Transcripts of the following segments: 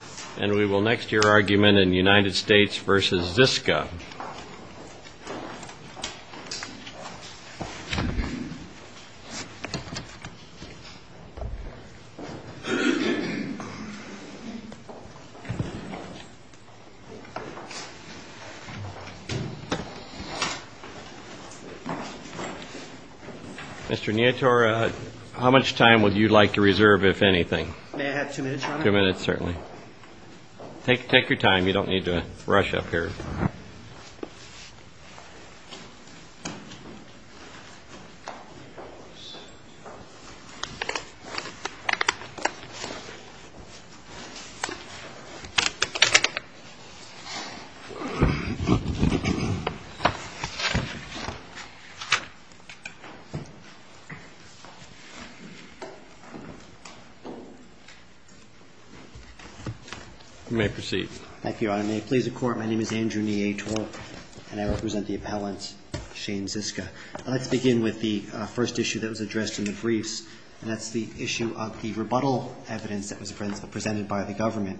Mr. Neator, how much time would you like to reserve, if anything? May I have two minutes, Your Honor? Two minutes, certainly. Take your time. You don't need to rush up here. You may proceed. And may it please the Court, my name is Andrew Neator, and I represent the appellant, Shane Ziska. I'd like to begin with the first issue that was addressed in the briefs, and that's the issue of the rebuttal evidence that was presented by the government.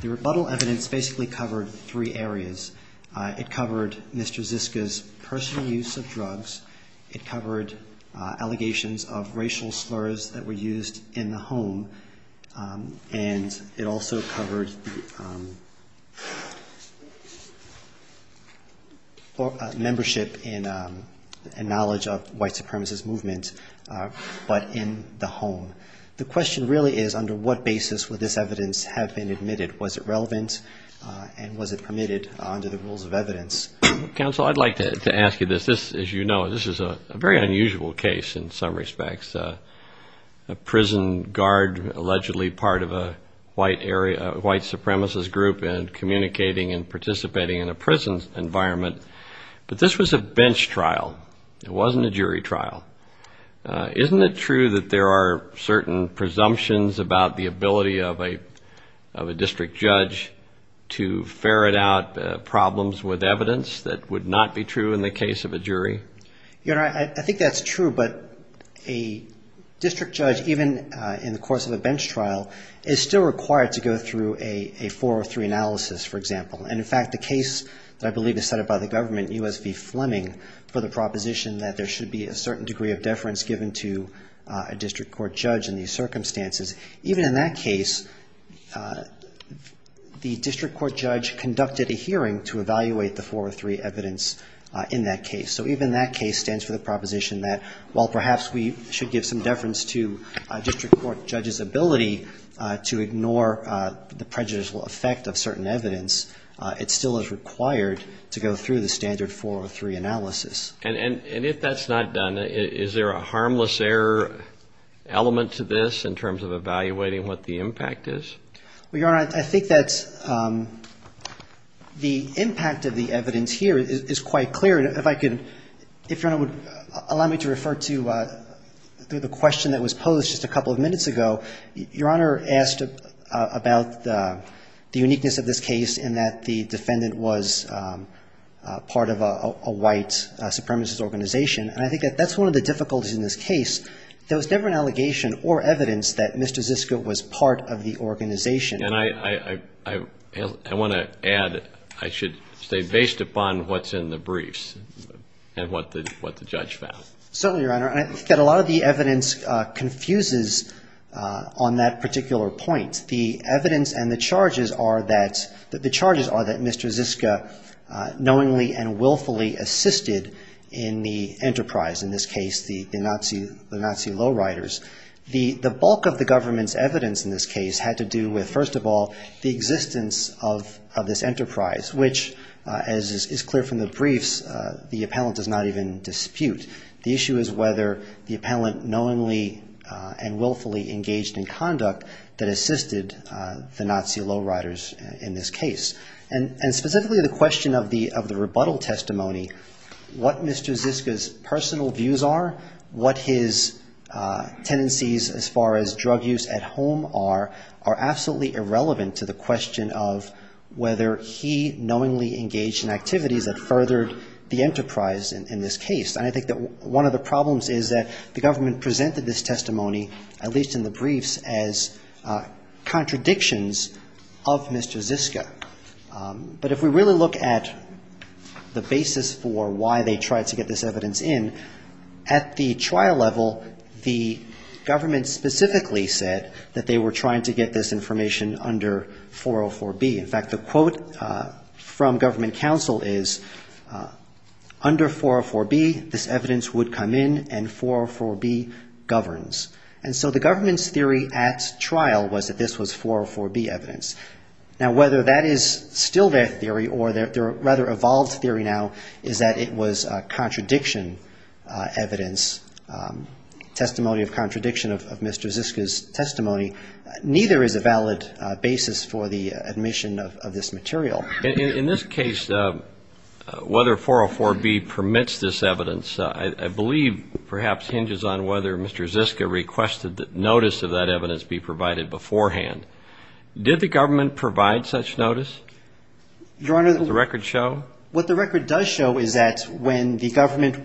The rebuttal evidence basically covered three areas. It covered Mr. Ziska's personal use of drugs. It covered allegations of racial slurs that were used in the home. And it also covered membership and knowledge of white supremacist movement, but in the home. The question really is, under what basis would this evidence have been admitted? Was it relevant, and was it permitted under the rules of evidence? Counsel, I'd like to ask you this. As you know, this is a very unusual case in some respects. A prison guard allegedly part of a white supremacist group, and communicating and participating in a prison environment. But this was a bench trial. It wasn't a jury trial. Isn't it true that there are certain presumptions about the ability of a district judge to ferret out problems with evidence that would not be true in the case of a jury? Your Honor, I think that's true. But a district judge, even in the course of a bench trial, is still required to go through a 403 analysis, for example. And in fact, the case that I believe is set up by the government, U.S. v. Fleming, for the proposition that there should be a certain degree of deference given to a district court judge in these circumstances, even in that case, the district court judge conducted a hearing to evaluate the 403 evidence in that case. So even that case stands for the proposition that, while perhaps we should give some deference to a district court judge's ability to ignore the prejudicial effect of certain evidence, it still is required to go through the standard 403 analysis. And if that's not done, is there a harmless error element to this in terms of evaluating what the impact is? Well, Your Honor, I think that the impact of the evidence here is quite clear. If I could, if Your Honor would allow me to refer to the question that was posed just a couple of minutes ago. Your Honor asked about the uniqueness of this case in that the defendant was part of a white supremacist organization. And I think that that's one of the difficulties in this case. There was never an allegation or evidence that Mr. Zisko was part of the organization. And I want to add, I should say, based upon what's in the briefs and what the judge found. Certainly, Your Honor. I think that a lot of the evidence confuses on that particular point. The evidence and the charges are that Mr. Zisko knowingly and willfully assisted in the enterprise, in this case, the Nazi low-riders. The bulk of the government's evidence in this case had to do with, first of all, the existence of this enterprise, which, as is clear from the briefs, the appellant does not even dispute. The issue is whether the appellant knowingly and willfully engaged in conduct that assisted the Nazi low-riders in this case. And specifically the question of the rebuttal testimony, what Mr. Zisko's personal views are, what his tendencies as far as drug use at home are, are absolutely irrelevant to the question of whether he knowingly engaged in activities that furthered the enterprise in this case. And I think that one of the problems is that the government presented this testimony, at least in the briefs, as contradictions of Mr. Zisko. But if we really look at the basis for why they tried to get this evidence in, at the trial level, the government specifically said that they were trying to get this information under 404B. In fact, the quote from government counsel is, under 404B, this evidence would come in and 404B governs. And so the government's theory at trial was that this was 404B evidence. Now, whether that is still their theory or their rather evolved theory now is that it was contradiction evidence, testimony of contradiction of Mr. Zisko's testimony. Neither is a valid basis for the admission of this material. In this case, whether 404B permits this evidence, I believe perhaps hinges on whether Mr. Zisko requested that notice of that evidence be provided beforehand. Did the government provide such notice? Does the record show? Your Honor, what the record does show is that when the government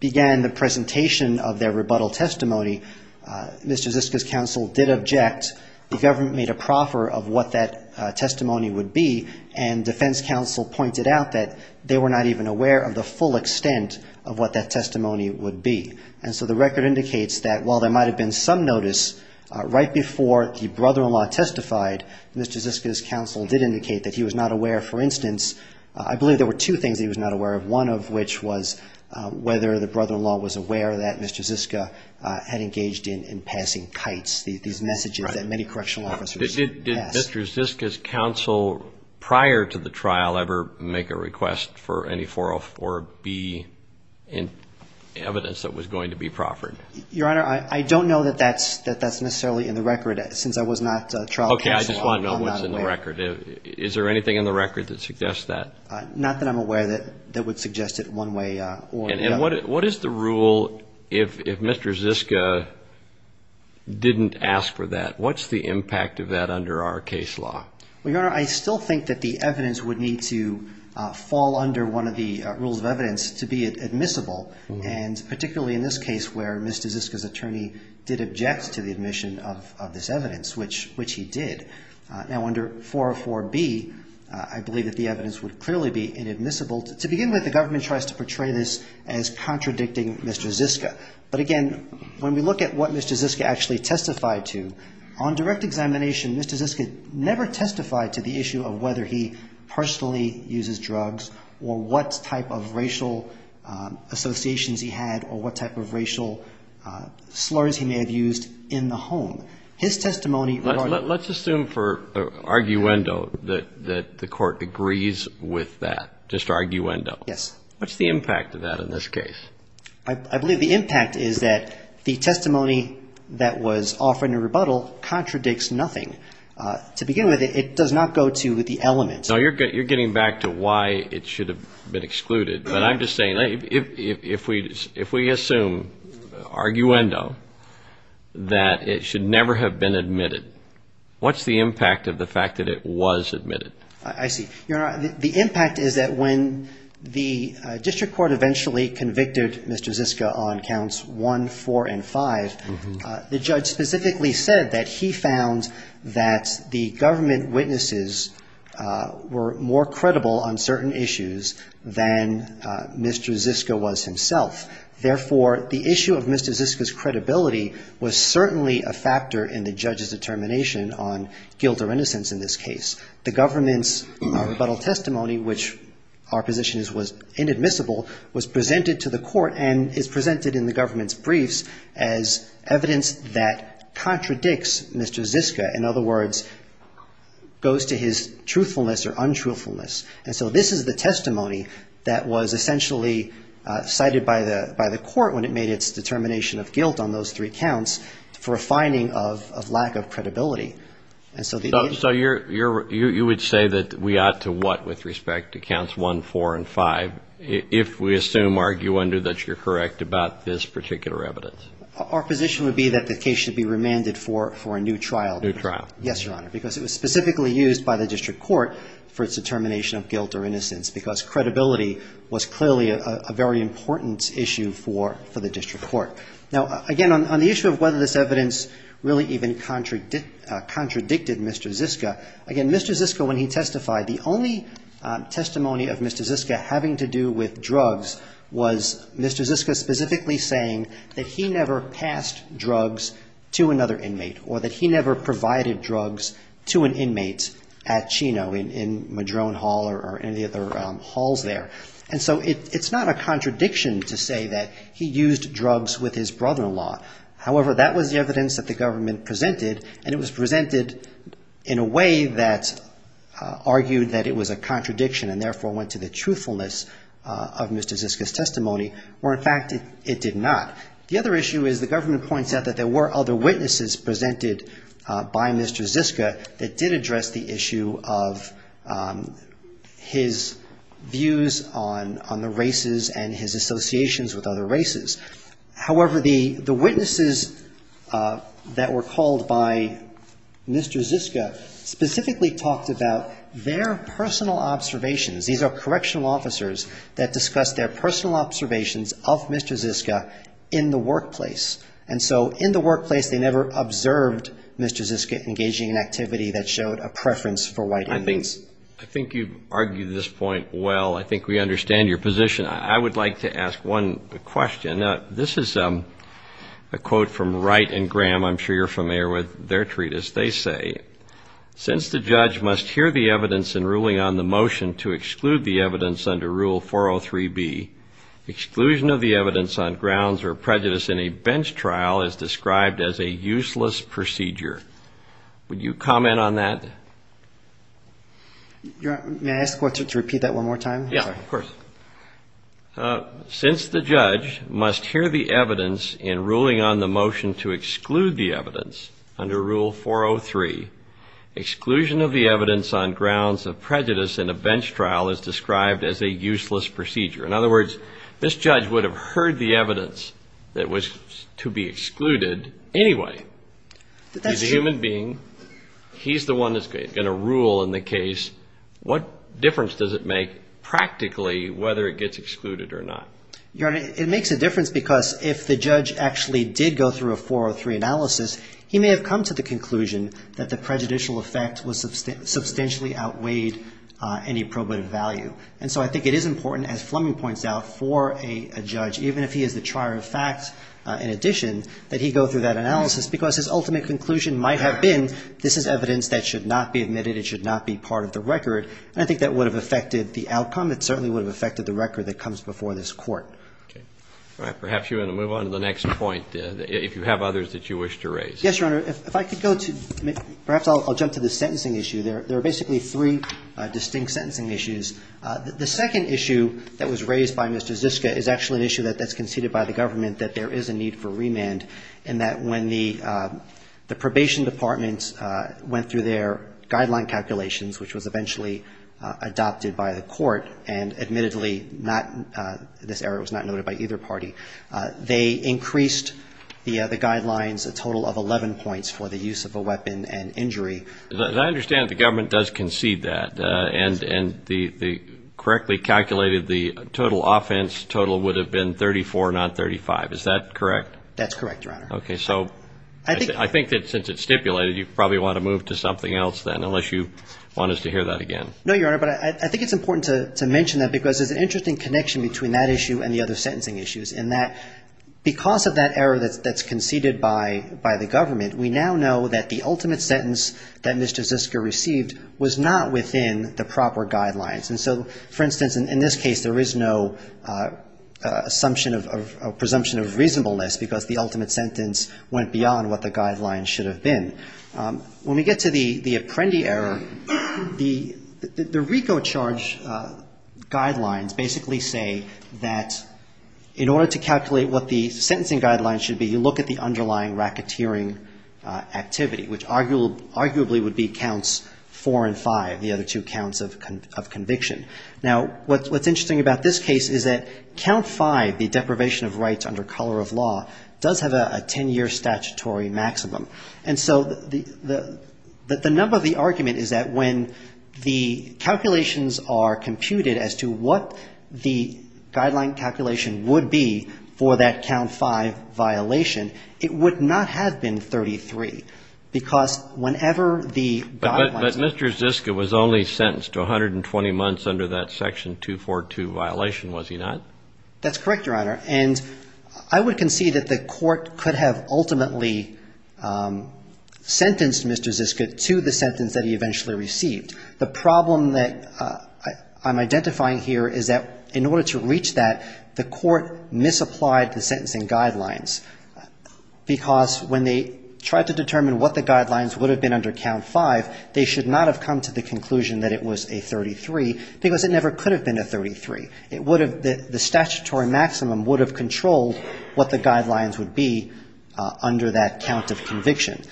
began the presentation of their rebuttal testimony, Mr. Zisko's counsel did object. The government made a proffer of what that testimony would be, and defense counsel pointed out that they were not even aware of the full extent of what that testimony would be. And so the record indicates that while there might have been some notice right before the brother-in-law testified, Mr. Zisko's counsel did indicate that he was not aware, for instance, I believe there were two things that he was not aware of. One of which was whether the brother-in-law was aware that Mr. Zisko had engaged in passing kites, these messages that many correctional officers pass. Did Mr. Zisko's counsel prior to the trial ever make a request for any 404B evidence that was going to be proffered? Your Honor, I don't know that that's necessarily in the record since I was not trial counsel. I just want to know what's in the record. Is there anything in the record that suggests that? Not that I'm aware that would suggest it one way or another. And what is the rule if Mr. Zisko didn't ask for that? What's the impact of that under our case law? Well, Your Honor, I still think that the evidence would need to fall under one of the rules of evidence to be admissible, and particularly in this case where Mr. Zisko's attorney did object to the admission of this evidence, which he did. Now, under 404B, I believe that the evidence would clearly be inadmissible. To begin with, the government tries to portray this as contradicting Mr. Zisko. But again, when we look at what Mr. Zisko actually testified to, on direct examination, Mr. Zisko never testified to the issue of whether he personally uses drugs or what type of racial associations he had or what type of racial slurs he may have used in the home. Let's assume for arguendo that the Court agrees with that, just arguendo. Yes. What's the impact of that in this case? I believe the impact is that the testimony that was offered in rebuttal contradicts nothing. To begin with, it does not go to the element. No, you're getting back to why it should have been excluded. But I'm just saying, if we assume, arguendo, that it should never have been admitted, what's the impact of the fact that it was admitted? I see. Your Honor, the impact is that when the district court eventually convicted Mr. Zisko on counts one, four, and five, the judge specifically said that he found that the government witnesses were more credible on certain issues than Mr. Zisko was himself. Therefore, the issue of Mr. Zisko's credibility was certainly a factor in the judge's determination on guilt or innocence in this case. The government's rebuttal testimony, which our position is was inadmissible, was presented to the Court and is presented in the government's And the fact that that contradicts Mr. Zisko, in other words, goes to his truthfulness or untruthfulness. And so this is the testimony that was essentially cited by the Court when it made its determination of guilt on those three counts for a finding of lack of credibility. So you would say that we ought to what with respect to counts one, four, and five if we assume, arguendo, that you're correct about this particular evidence? Yes, Your Honor, because it was specifically used by the district court for its determination of guilt or innocence because credibility was clearly a very important issue for the district court. Now, again, on the issue of whether this evidence really even contradicted Mr. Zisko, again, Mr. Zisko, when he testified, the only testimony of Mr. Zisko having to do with drugs was Mr. Zisko specifically saying that he never passed drugs to another inmate or that he never provided drugs to an inmate at Chino in Madrone Hall or any of the other halls there. And so it's not a contradiction to say that he used drugs with his brother-in-law. However, that was the evidence that the government presented, and it was presented in a way that argued that it was a contradiction and therefore went to the truthfulness of Mr. Zisko's testimony, where in fact it did not. The other issue is the government points out that there were other witnesses presented by Mr. Zisko that did address the issue of his views on the races and his associations with other races. However, the witnesses that were called by Mr. Zisko specifically talked about their personal observations. These are correctional officers that discussed their personal observations of Mr. Zisko in the workplace. And so in the workplace, they never observed Mr. Zisko engaging in activity that showed a preference for white inmates. I think you've argued this point well. I think we understand your position. I would like to ask one question. This is a quote from Wright and Graham. I'm sure you're familiar with their treatise. They say, since the judge must hear the evidence in ruling on the motion to exclude the evidence under Rule 403B, exclusion of the evidence on grounds or prejudice in a bench trial is described as a useless procedure. Would you comment on that? May I ask the court to repeat that one more time? Yeah, of course. Since the judge must hear the evidence in ruling on the motion to exclude the evidence under Rule 403, exclusion of the evidence on grounds of prejudice in a bench trial is described as a useless procedure. In other words, this judge would have heard the evidence that was to be excluded anyway. The human being, he's the one that's going to rule in the case. What difference does it make practically whether it gets excluded or not? Your Honor, it makes a difference because if the judge actually did go through a 403 analysis, he may have come to the conclusion that the prejudicial effect substantially outweighed any probative value. And so I think it is important, as Fleming points out, for a judge, even if he is the trier of facts in addition, that he go through that analysis because that's the only way he's going to be able to make a decision. And so as his ultimate conclusion might have been, this is evidence that should not be admitted. It should not be part of the record. And I think that would have affected the outcome. It certainly would have affected the record that comes before this Court. All right. Perhaps you want to move on to the next point, if you have others that you wish to raise. Yes, Your Honor. If I could go to – perhaps I'll jump to the sentencing issue. There are basically three distinct sentencing issues. The second issue that was raised by Mr. Ziska is actually an issue that's conceded by the government that there is a need for remand, and that when the Probation Department went through their guideline calculations, which was eventually adopted by the Court, and admittedly not – this error was not noted by either party – they increased the guidelines a total of 11 points for the use of a weapon and injury. As I understand it, the government does concede that, and they correctly calculated the total offense total would have been 34, not 35. Is that correct? That's correct, Your Honor. Okay. So I think that since it's stipulated, you probably want to move to something else then, unless you want us to hear that again. No, Your Honor, but I think it's important to mention that, because there's an interesting connection between that issue and the other sentencing issues, in that because of that error that's conceded by the government, we now know that the ultimate sentence should not be admitted. The ultimate sentence that Mr. Ziska received was not within the proper guidelines. And so, for instance, in this case, there is no assumption of – or presumption of reasonableness, because the ultimate sentence went beyond what the guidelines should have been. When we get to the Apprendi error, the RICO charge guidelines basically say that in order to calculate what the sentencing guidelines should be, you look at the underlying racketeering activity, which arguably would have been the RICO charge. And so, the RICO charge guidelines basically would be counts 4 and 5, the other two counts of conviction. Now, what's interesting about this case is that count 5, the deprivation of rights under color of law, does have a 10-year statutory maximum. And so, the number of the argument is that when the calculations are computed as to what the guideline calculation would be for that count 5 violation, it would not have been 33, because whenever the RICO charge guidelines were computed, it was not within the guidelines. But Mr. Ziska was only sentenced to 120 months under that Section 242 violation, was he not? That's correct, Your Honor. And I would concede that the court could have ultimately sentenced Mr. Ziska to the sentence that he eventually received. The problem that I'm identifying here is that in order to reach that, the court misapplied the sentencing guidelines, because when they tried to determine what the guidelines would have been under count 5, they misapplied the sentencing guidelines. And so, when they tried to determine what the guidelines would have been under count 5, they should not have come to the conclusion that it was a 33, because it never could have been a 33. The statutory maximum would have controlled what the guidelines would be under that count of conviction.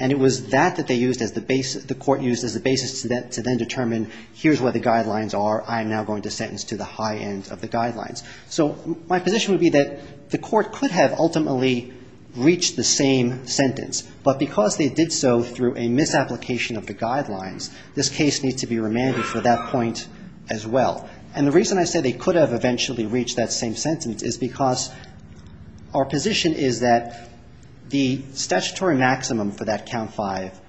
And it was that that the court used as the basis to then determine, here's where the guidelines are, I am now going to sentence to the high end of the guidelines. So, my position would be that the court could have ultimately reached the same sentence, but because they did so through a misapplication of the sentencing guidelines, this case needs to be remanded for that point as well. And the reason I say they could have eventually reached that same sentence is because our position is that the statutory maximum for that count 5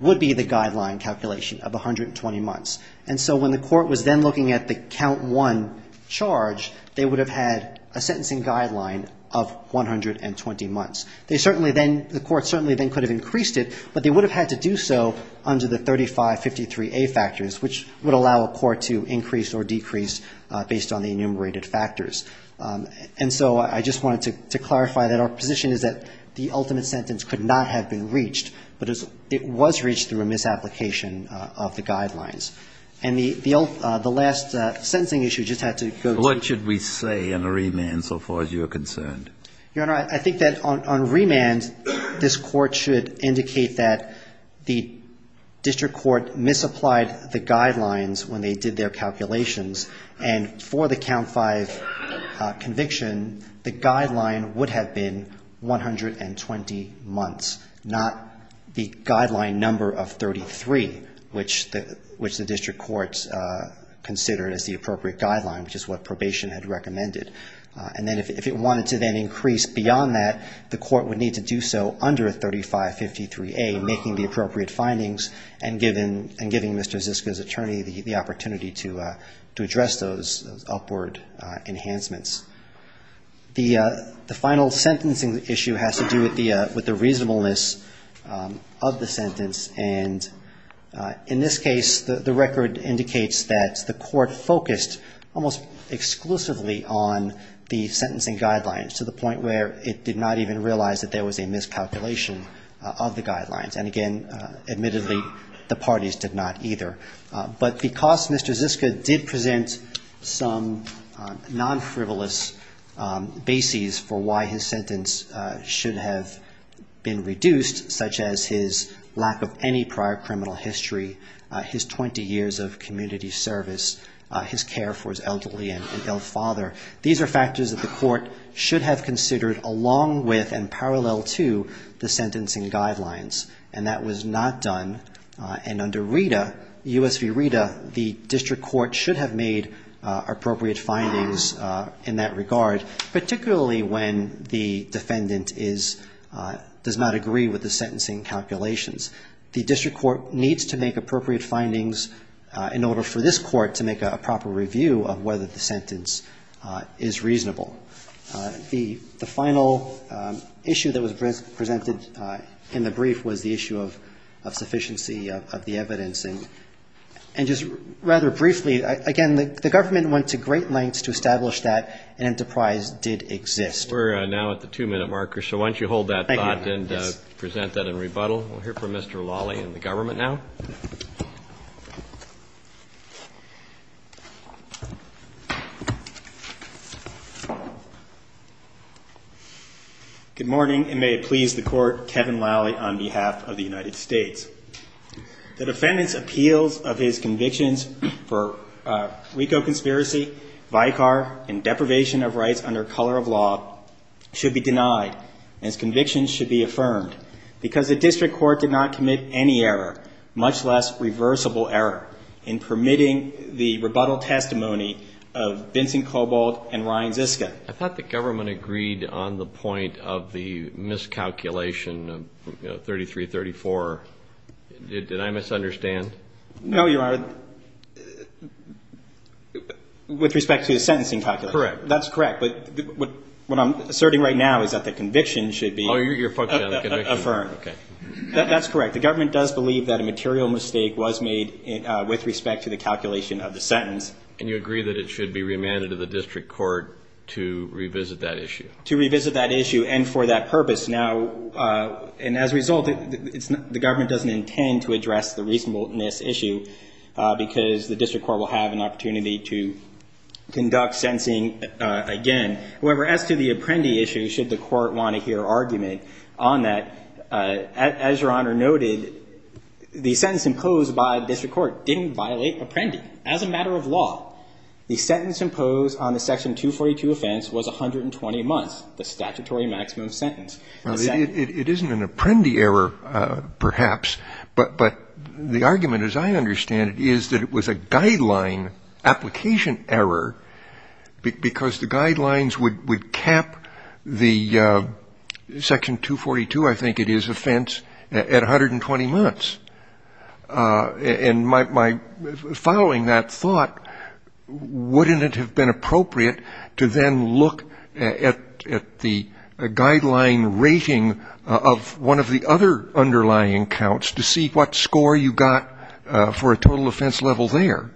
would be the guideline calculation of 120 months. And so, when the court was then looking at the count 1 charge, they would have had a sentencing guideline of 120 months. They certainly then, the court certainly then could have increased it, but they would have had to do so under the 3553A factors, which would allow a court to increase or decrease based on the enumerated factors. And so, I just wanted to clarify that our position is that the ultimate sentence could not have been reached, but it was reached through a misapplication of the guidelines. And the last sentencing issue just had to go to the... On remand, this court should indicate that the district court misapplied the guidelines when they did their calculations. And for the count 5 conviction, the guideline would have been 120 months, not the guideline number of 33, which the district court considered as the appropriate guideline, which is what probation had recommended. And then, if it wanted to then increase beyond that, the court would need to do so under 3553A, making the appropriate findings and giving Mr. Ziska's attorney the opportunity to address those upward enhancements. The final sentencing issue has to do with the reasonableness of the sentence. And in this case, the record indicates that the court focused almost exclusively on the sentence that the district court misapplied. It focused on the sentencing guidelines, to the point where it did not even realize that there was a miscalculation of the guidelines. And again, admittedly, the parties did not either. But because Mr. Ziska did present some non-frivolous bases for why his sentence should have been reduced, such as his lack of any prior criminal history, his 20 years of community service, his care for his elderly and ill father, these are all things that the district court should have considered. These are factors that the court should have considered along with and parallel to the sentencing guidelines, and that was not done. And under RETA, US v. RETA, the district court should have made appropriate findings in that regard, particularly when the defendant does not agree with the sentencing calculations. The district court needs to make appropriate findings in order for this court to make a proper review of whether the sentence is reasonable. The final issue that was presented in the brief was the issue of sufficiency of the evidence. And just rather briefly, again, the government went to great lengths to establish that an enterprise did exist. We're now at the two-minute marker, so why don't you hold that thought and present that in rebuttal. We'll hear from Mr. Lawley and the government now. Good morning, and may it please the court, Kevin Lawley on behalf of the United States. The defendant's appeals of his convictions for RICO conspiracy, Vicar, and deprivation of rights under color of law should be denied, and his convictions should be affirmed, because the district court did not commit any error, much less reversible error, in permitting the rebuttal testimony of Vincent Kobold and Ryan Ziska. I thought the government agreed on the point of the miscalculation of 3334. Did I misunderstand? No, Your Honor, with respect to the sentencing calculation. Correct. That's correct, but what I'm asserting right now is that the conviction should be affirmed. That's correct. The government does believe that a material mistake was made with respect to the calculation of the sentence. And you agree that it should be remanded to the district court to revisit that issue? To revisit that issue, and for that purpose. Now, and as a result, the government doesn't intend to address the reasonableness issue, because the district court will have an opportunity to conduct sentencing again. However, as to the Apprendi issue, should the court want to hear argument on that, as Your Honor noted, the sentence imposed by the district court didn't violate Apprendi. As a matter of law, the sentence imposed on the Section 242 offense was 120 months, the statutory maximum sentence. It isn't an Apprendi error, perhaps, but the argument, as I understand it, is that it was a guideline application error, because the guidelines would cap the Section 242, I think it is, offense at 120 months. And my following that thought, wouldn't it have been appropriate to then look at the guideline rating of one of the other underlying counts to see what score you got for a total offense level there?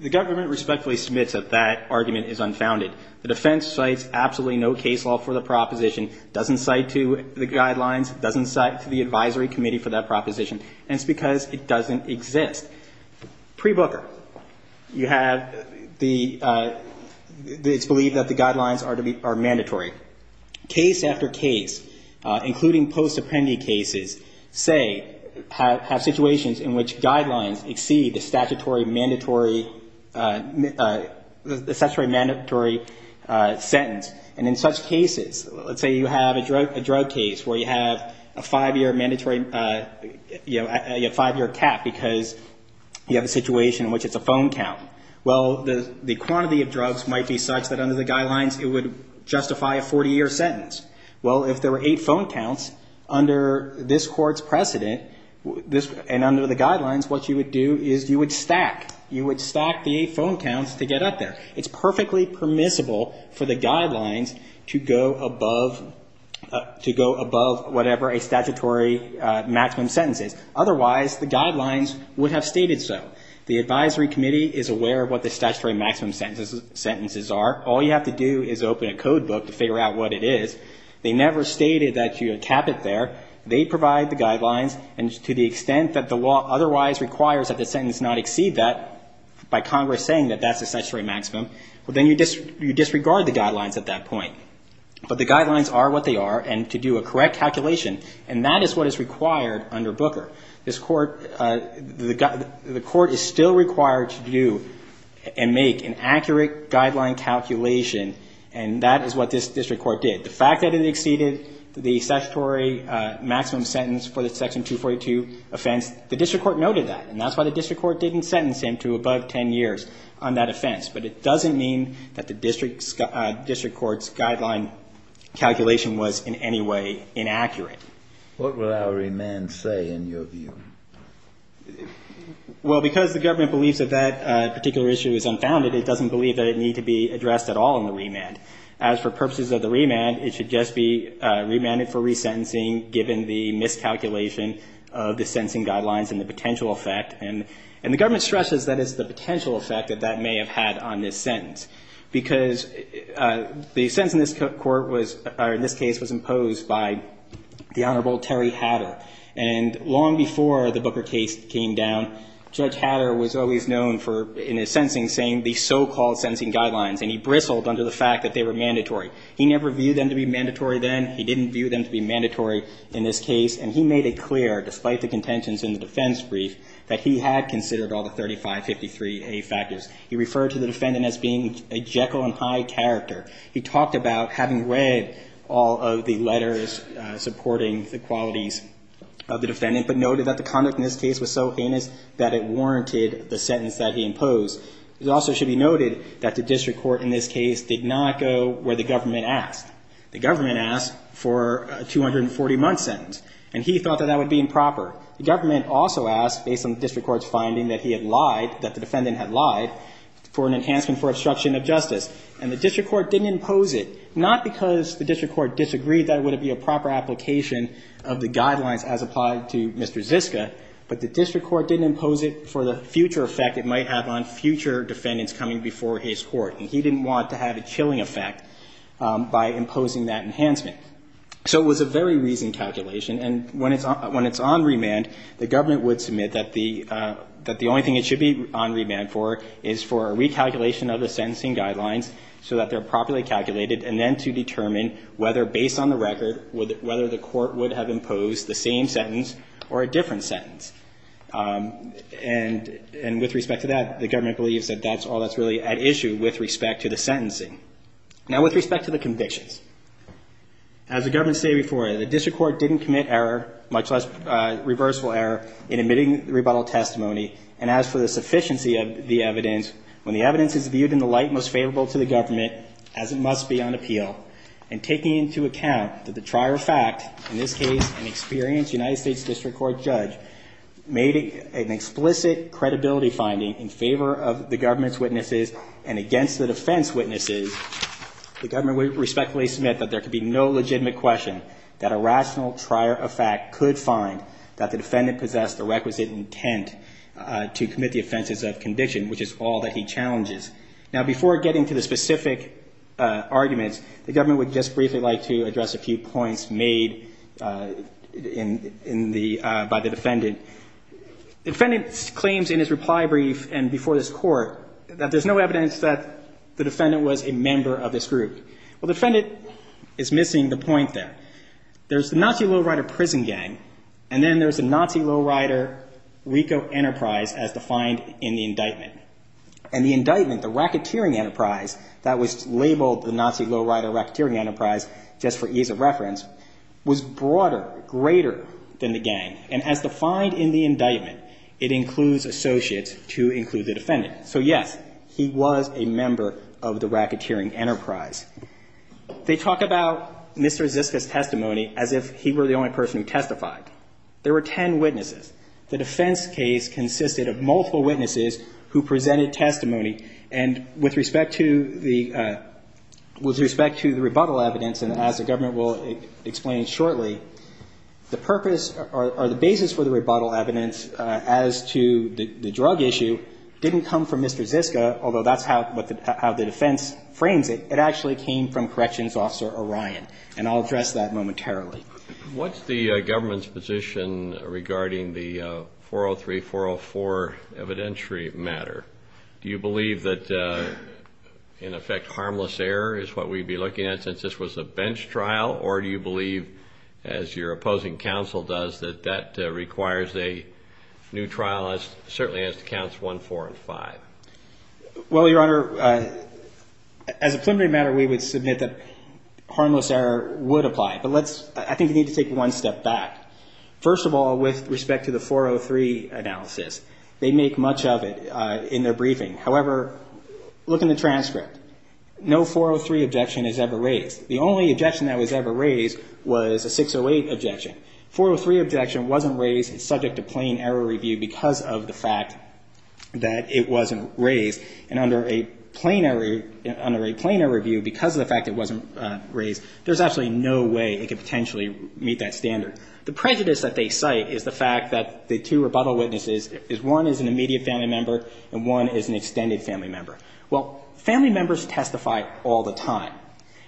The government respectfully submits that that argument is unfounded. The defense cites absolutely no case law for the proposition, doesn't cite to the guidelines, doesn't cite to the advisory committee for that proposition, and it's because it doesn't exist. Pre-Booker, you have the, it's believed that the guidelines are mandatory. Case after case, including post-Apprendi cases, say, have situations in which guidelines exceed the statutory mandatory sentence. And in such cases, let's say you have a drug case where you have a five-year mandatory, a five-year cap because you have a situation in which it's a phone count. Well, the quantity of drugs might be such that under the guidelines it would justify a 40-year sentence. Well, if there were eight phone counts, under this and under the guidelines, what you would do is you would stack. You would stack the eight phone counts to get up there. It's perfectly permissible for the guidelines to go above, to go above whatever a statutory maximum sentence is. Otherwise, the guidelines would have stated so. The advisory committee is aware of what the statutory maximum sentences are. All you have to do is open a code book to figure out what it is. They never stated that you would cap it there. They provide the guidelines, and to the extent that the law otherwise requires that the sentence not exceed that by Congress saying that that's the statutory maximum, well, then you disregard the guidelines at that point. But the guidelines are what they are, and to do a correct calculation, and that is what is required under Booker. This Court, the Court is still required to do and make an accurate guideline calculation, and that is what this district court did. The fact that it exceeded the statutory maximum sentence for the Section 242 offense does not mean that the district court's guideline calculation was in any way inaccurate. What will our remand say in your view? Well, because the government believes that that particular issue is unfounded, it doesn't believe that it needs to be addressed at all in the remand. As for purposes of the remand, it should just be remanded for resentencing given the miscalculation of the sentencing guidelines and the potential effect, and the government stresses that is the potential effect that that may have had on this sentence. Because the sentence in this court was, or in this case, was imposed by the Honorable Terry Hatter, and long before the Booker case came down, Judge Hatter was always known for, in his sentencing, saying the so-called sentencing guidelines, and he bristled under the fact that they were mandatory. He never viewed them to be mandatory then. He didn't view them to be mandatory in this case, and he made it clear, despite the contentions in the defense brief, that he had considered all the 3553A factors. He referred to the defendant as being a Jekyll and Hyde character. He talked about having read all of the letters supporting the qualities of the defendant, but noted that the conduct in this case was so heinous that it warranted the sentence that he imposed. It also should be noted that the district court in this case did not go where the government asked. The government asked for a 240-month sentence, and he thought that that would be improper. The government also asked, based on the district court's finding that he had lied, that the defendant had lied, for an enhancement for obstruction of justice, and the district court didn't impose it, not because the district court disagreed that it would be a proper application of the guidelines as applied to Mr. Ziska, but the district court didn't impose it for the future effect it might have on future defendants coming before his court, and he didn't want to have a chilling effect by imposing that sentence, but when it's on remand, the government would submit that the only thing it should be on remand for is for a recalculation of the sentencing guidelines so that they're properly calculated, and then to determine whether, based on the record, whether the court would have imposed the same sentence or a different sentence. And with respect to that, the government believes that that's all that's really at issue with respect to the sentencing. Now, with respect to the convictions, as the government stated before, the district court didn't commit error, much less reversal error, in admitting rebuttal testimony, and as for the sufficiency of the evidence, when the evidence is viewed in the light most favorable to the government, as it must be on appeal, and taking into account that the trier of fact, in this case, an experienced United States district court judge, made an explicit credibility finding in favor of the government's witnesses and against the defense witnesses, the government would respectfully submit that there could be no legitimate question that a rational trier of fact could find that the defendant possessed the requisite intent to commit the offenses of conviction, which is all that he challenges. Now, before getting to the specific arguments, the government would just briefly like to address a few points made by the defendant. The defendant claims in his reply brief and before this court that there's no evidence that the defendant was a member of this group. Well, the defendant is missing the point there. There's the Nazi Lowrider prison gang, and then there's the Nazi Lowrider RICO enterprise, as defined in the indictment. And the indictment, the racketeering enterprise that was labeled the Nazi Lowrider racketeering enterprise, just for ease of reference, was broader, greater than the gang. And as defined in the indictment, the defendant was a member of this group. And as defined in the indictment, it includes associates to include the defendant. So, yes, he was a member of the racketeering enterprise. They talk about Mr. Ziska's testimony as if he were the only person who testified. There were ten witnesses. The defense case consisted of multiple witnesses who presented testimony, and with respect to the, with respect to the rebuttal evidence, and as the government will explain shortly, the purpose or the basis for the rebuttal evidence as to the drug issue didn't come from Mr. Ziska, although that's how the defense frames it. It actually came from Corrections Officer Orion, and I'll address that momentarily. What's the government's position regarding the 403-404 evidentiary matter? Do you believe that, in effect, harmless error is what we'd be looking at since this was a bench trial, or do you believe, as your opposing counsel does, that that requires a new trial as, certainly as to counts one, four, and five? Well, Your Honor, as a preliminary matter, we would submit that harmless error would apply. But let's, I think we need to take one step back. First of all, with respect to the 403 analysis, they make much of it in their briefing. However, look in the transcript. No 403 objection is ever raised. The only objection that was ever raised was a 608 objection. 403 objection wasn't raised. It's subject to plain error review because of the fact that it wasn't raised, and under a plain error, under a plain error review because of the fact it wasn't raised, there's absolutely no way it could potentially meet that standard. The prejudice that they cite is the fact that the two rebuttal witnesses is, one is an immediate family member, and one is an extended family member. Well, family members testify all the time.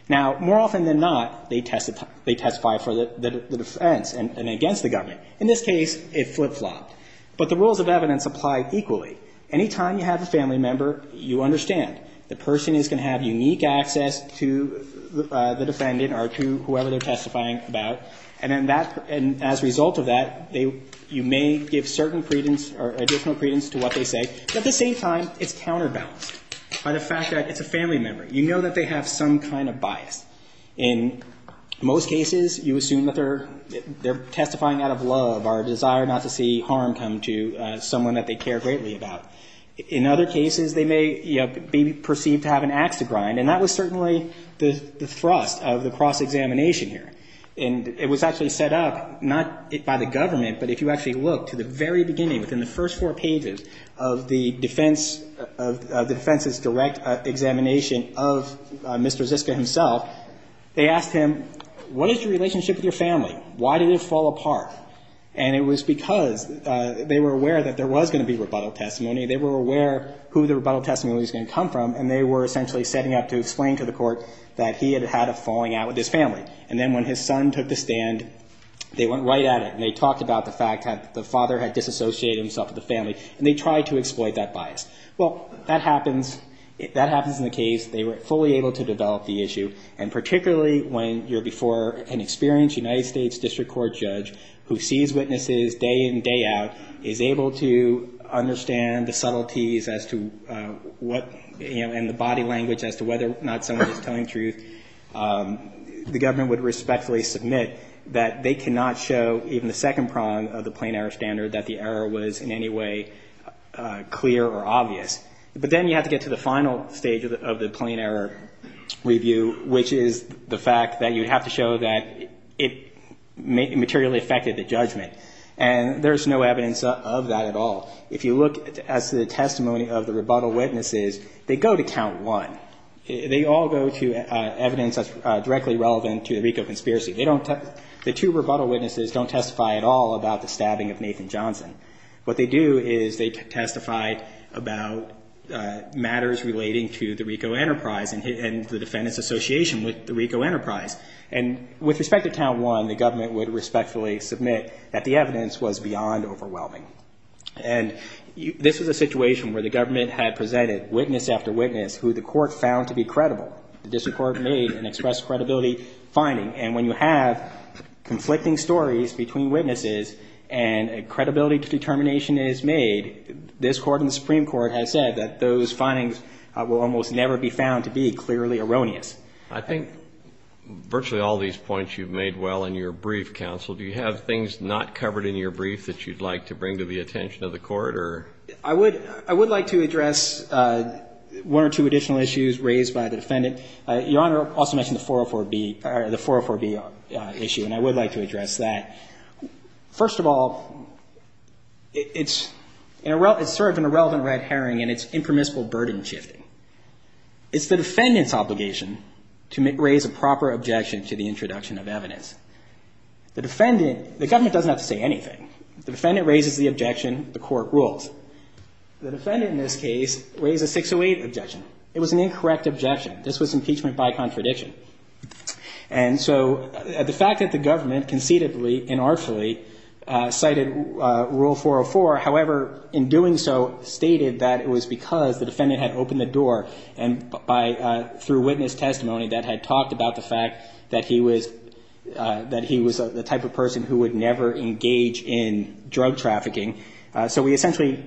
Now, more often than not, they testify for the defense and against the government. In this case, it flip-flopped. But the rules of evidence apply equally. Any time you have a family member, you understand the person is going to have unique access to the defendant or to whoever they're testifying about, and as a result of that, you may give certain credence or additional credence to what they say. But at the same time, it's counterbalanced by the fact that it's a family member. You know that they have some kind of bias. In most cases, you assume that they're testifying out of love or a desire not to see harm come to someone that they care greatly about. In other cases, they may, you know, be perceived to have an ax to grind, and that was certainly the thrust of the cross-examination here. And it was actually set up, not by the government, but if you actually look to the very beginning, within the first four pages of the defense's direct examination of Mr. Smith's testimony, it was set up as a cross-examination. And Mr. Ziska himself, they asked him, what is your relationship with your family? Why did it fall apart? And it was because they were aware that there was going to be rebuttal testimony. They were aware who the rebuttal testimony was going to come from, and they were essentially setting up to explain to the court that he had had a falling out with his family. And then when his son took the stand, they went right at it, and they talked about the fact that the father had disassociated himself with the family, and they tried to exploit that bias. Well, that happens. That happens in the case. They were fully able to develop the issue, and particularly when you're before an experienced United States District Court judge who sees witnesses day in and day out, is able to understand the subtleties as to what, you know, and the body language as to whether or not someone is telling truth, the government would respectfully submit that they cannot show even the second prong of the plain error standard that the error was in any way clear or obvious. But then you have to get to the final stage of the plain error review, which is the fact that you have to show that it materially affected the judgment. And there's no evidence of that at all. If you look at the testimony of the rebuttal witnesses, they go to count one. They all go to evidence that's directly relevant to the RICO conspiracy. The two witnesses, what they do is they testify about matters relating to the RICO enterprise and the defendant's association with the RICO enterprise. And with respect to count one, the government would respectfully submit that the evidence was beyond overwhelming. And this was a situation where the government had presented witness after witness who the court found to be credible. The district court made an express credibility finding. And when you have conflicting stories between witnesses and defendants, when a credibility determination is made, this Court and the Supreme Court has said that those findings will almost never be found to be clearly erroneous. I think virtually all these points you've made well in your brief, counsel. Do you have things not covered in your brief that you'd like to bring to the attention of the court? I would like to address one or two additional issues raised by the defendant. Your Honor also mentioned the 404B issue, and I would like to address that issue as well. It's sort of an irrelevant red herring in its impermissible burden shifting. It's the defendant's obligation to raise a proper objection to the introduction of evidence. The defendant, the government doesn't have to say anything. The defendant raises the objection, the court rules. The defendant in this case raised a 608 objection. It was an incorrect objection. This was impeachment by contradiction. And so the fact that the government concededly and artfully cited Rule 404, however, in doing so, stated that it was because the defendant had opened the door, and by, through witness testimony, that had talked about the fact that he was, that he was the type of person who would never engage in drug trafficking. So we essentially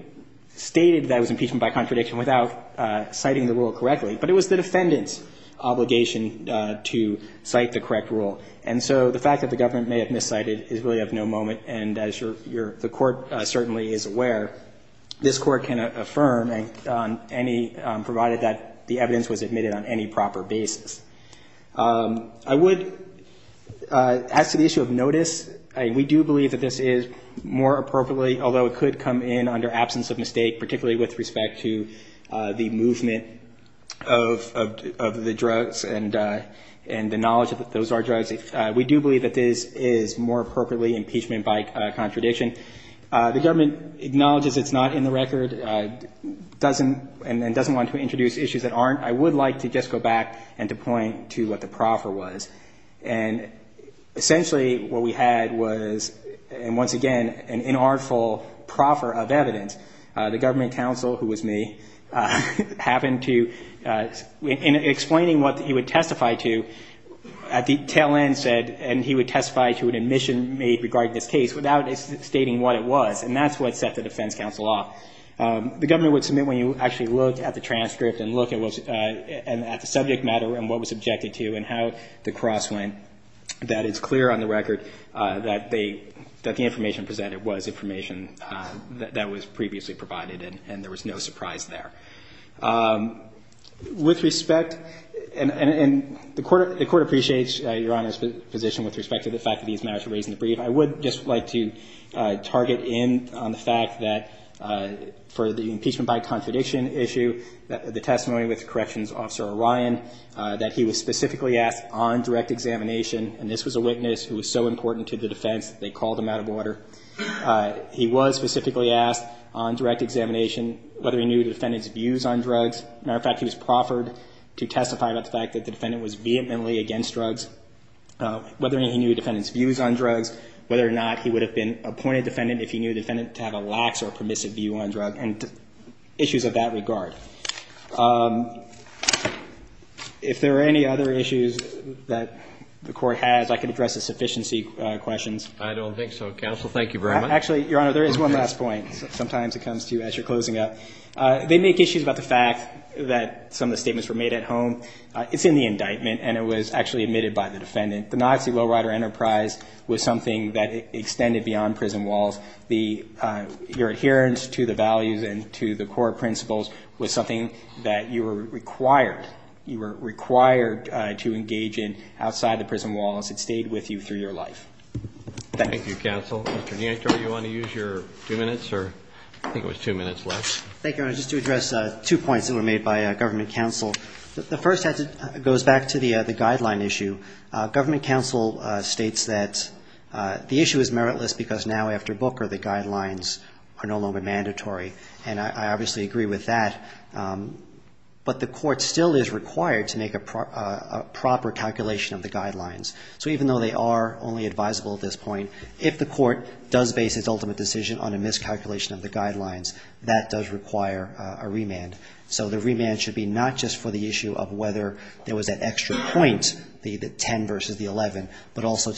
stated that it was impeachment by contradiction without citing the rule correctly. But it was the defendant's obligation to cite the correct rule. And so the fact that the government may have miscited is really of no moment. And as your, your, your the court certainly is aware, this court can affirm on any, provided that the evidence was admitted on any proper basis. I would, as to the issue of notice, we do believe that this is more appropriately, although it could come in under absence of mistake, particularly with respect to the movement of, of the drugs and, and the knowledge that those are drugs, we do believe that this is more appropriately impeachment by contradiction. The government acknowledges it's not in the record, doesn't, and doesn't want to introduce issues that aren't. I would like to just go back and to point to what the proffer was. And essentially what we had was, and once again, an inartful proffer of evidence. The government counsel, who was me, happened to, in explaining what he would testify to, at the tail end said, and he would testify to an admission made regarding this case without stating what it was. And that's what set the defense counsel off. The government would submit when you actually look at the transcript and look at what's, at the subject matter and what was objected to and how the cross went, that it's clear on the record that they, that the information presented was information that was previously provided. And there was no surprise there. With respect, and, and the court, the court appreciates your Honor's position with respect to the fact that these matters are raised in the brief. I would just like to target in on the fact that for the impeachment by contradiction issue, that the testimony with Corrections Officer Orion, that he was specifically asked on direct examination, and this was a witness who was so important to the defense, they called him out of order. He was specifically asked on direct examination whether he knew the defendant's views on drugs, whether or not he would have been appointed defendant if he knew the defendant to have a lax or permissive view on drug and issues of that regard. If there are any other issues that the court has, I can address the sufficiency questions. I don't think so. Counsel, thank you very much. Actually, Your Honor, there is one last point. Sometimes it comes to you as you're closing up. They make issues about the fact that some of the statements that were made in the brief were not true. Some of the statements were made at home. It's in the indictment, and it was actually admitted by the defendant. The Nazi Lowrider Enterprise was something that extended beyond prison walls. The, your adherence to the values and to the core principles was something that you were required, you were required to engage in outside the prison walls. It stayed with you through your life. Thank you. Thank you, Counsel. Mr. Nieto, do you want to use your two minutes or, I think it was two minutes left. Thank you, Your Honor. Just to address two points that were made by Government Counsel. The first goes back to the guideline issue. Government Counsel states that the issue is meritless because now after Booker, the guidelines are no longer mandatory. And I obviously agree with that. But the court still is required to make a proper calculation of the guidelines. So even though they are only advisable at this point, if the court does base its ultimate decision on a miscalculation of the guidelines, it would require a remand. So the remand should be not just for the issue of whether there was an extra point, the 10 versus the 11, but also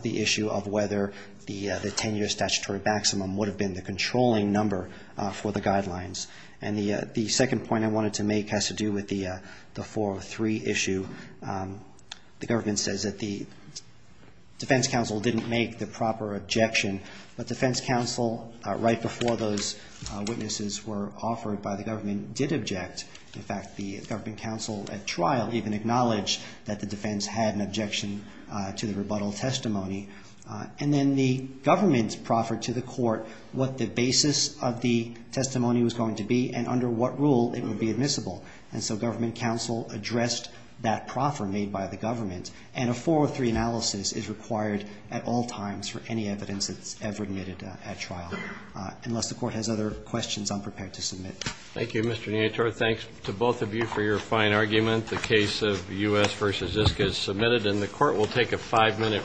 the issue of whether the 10-year statutory maximum would have been the controlling number for the guidelines. And the second point I wanted to make has to do with the 403 issue. The Government says that the Defense Counsel didn't make the proper objection. But Defense Counsel, right before those witnesses were offered by the government, did object. In fact, the Government Counsel at trial even acknowledged that the defense had an objection to the rebuttal testimony. And then the government proffered to the court what the basis of the testimony was going to be and under what rule it would be admissible. And so Government Counsel addressed that proffer made by the government. And a 403 analysis is required at the time, at all times, for any evidence that's ever admitted at trial, unless the court has other questions I'm prepared to submit. Thank you, Mr. Neator. Thanks to both of you for your fine argument. The case of U.S. v. Ziska is submitted and the court will take a five-minute recess.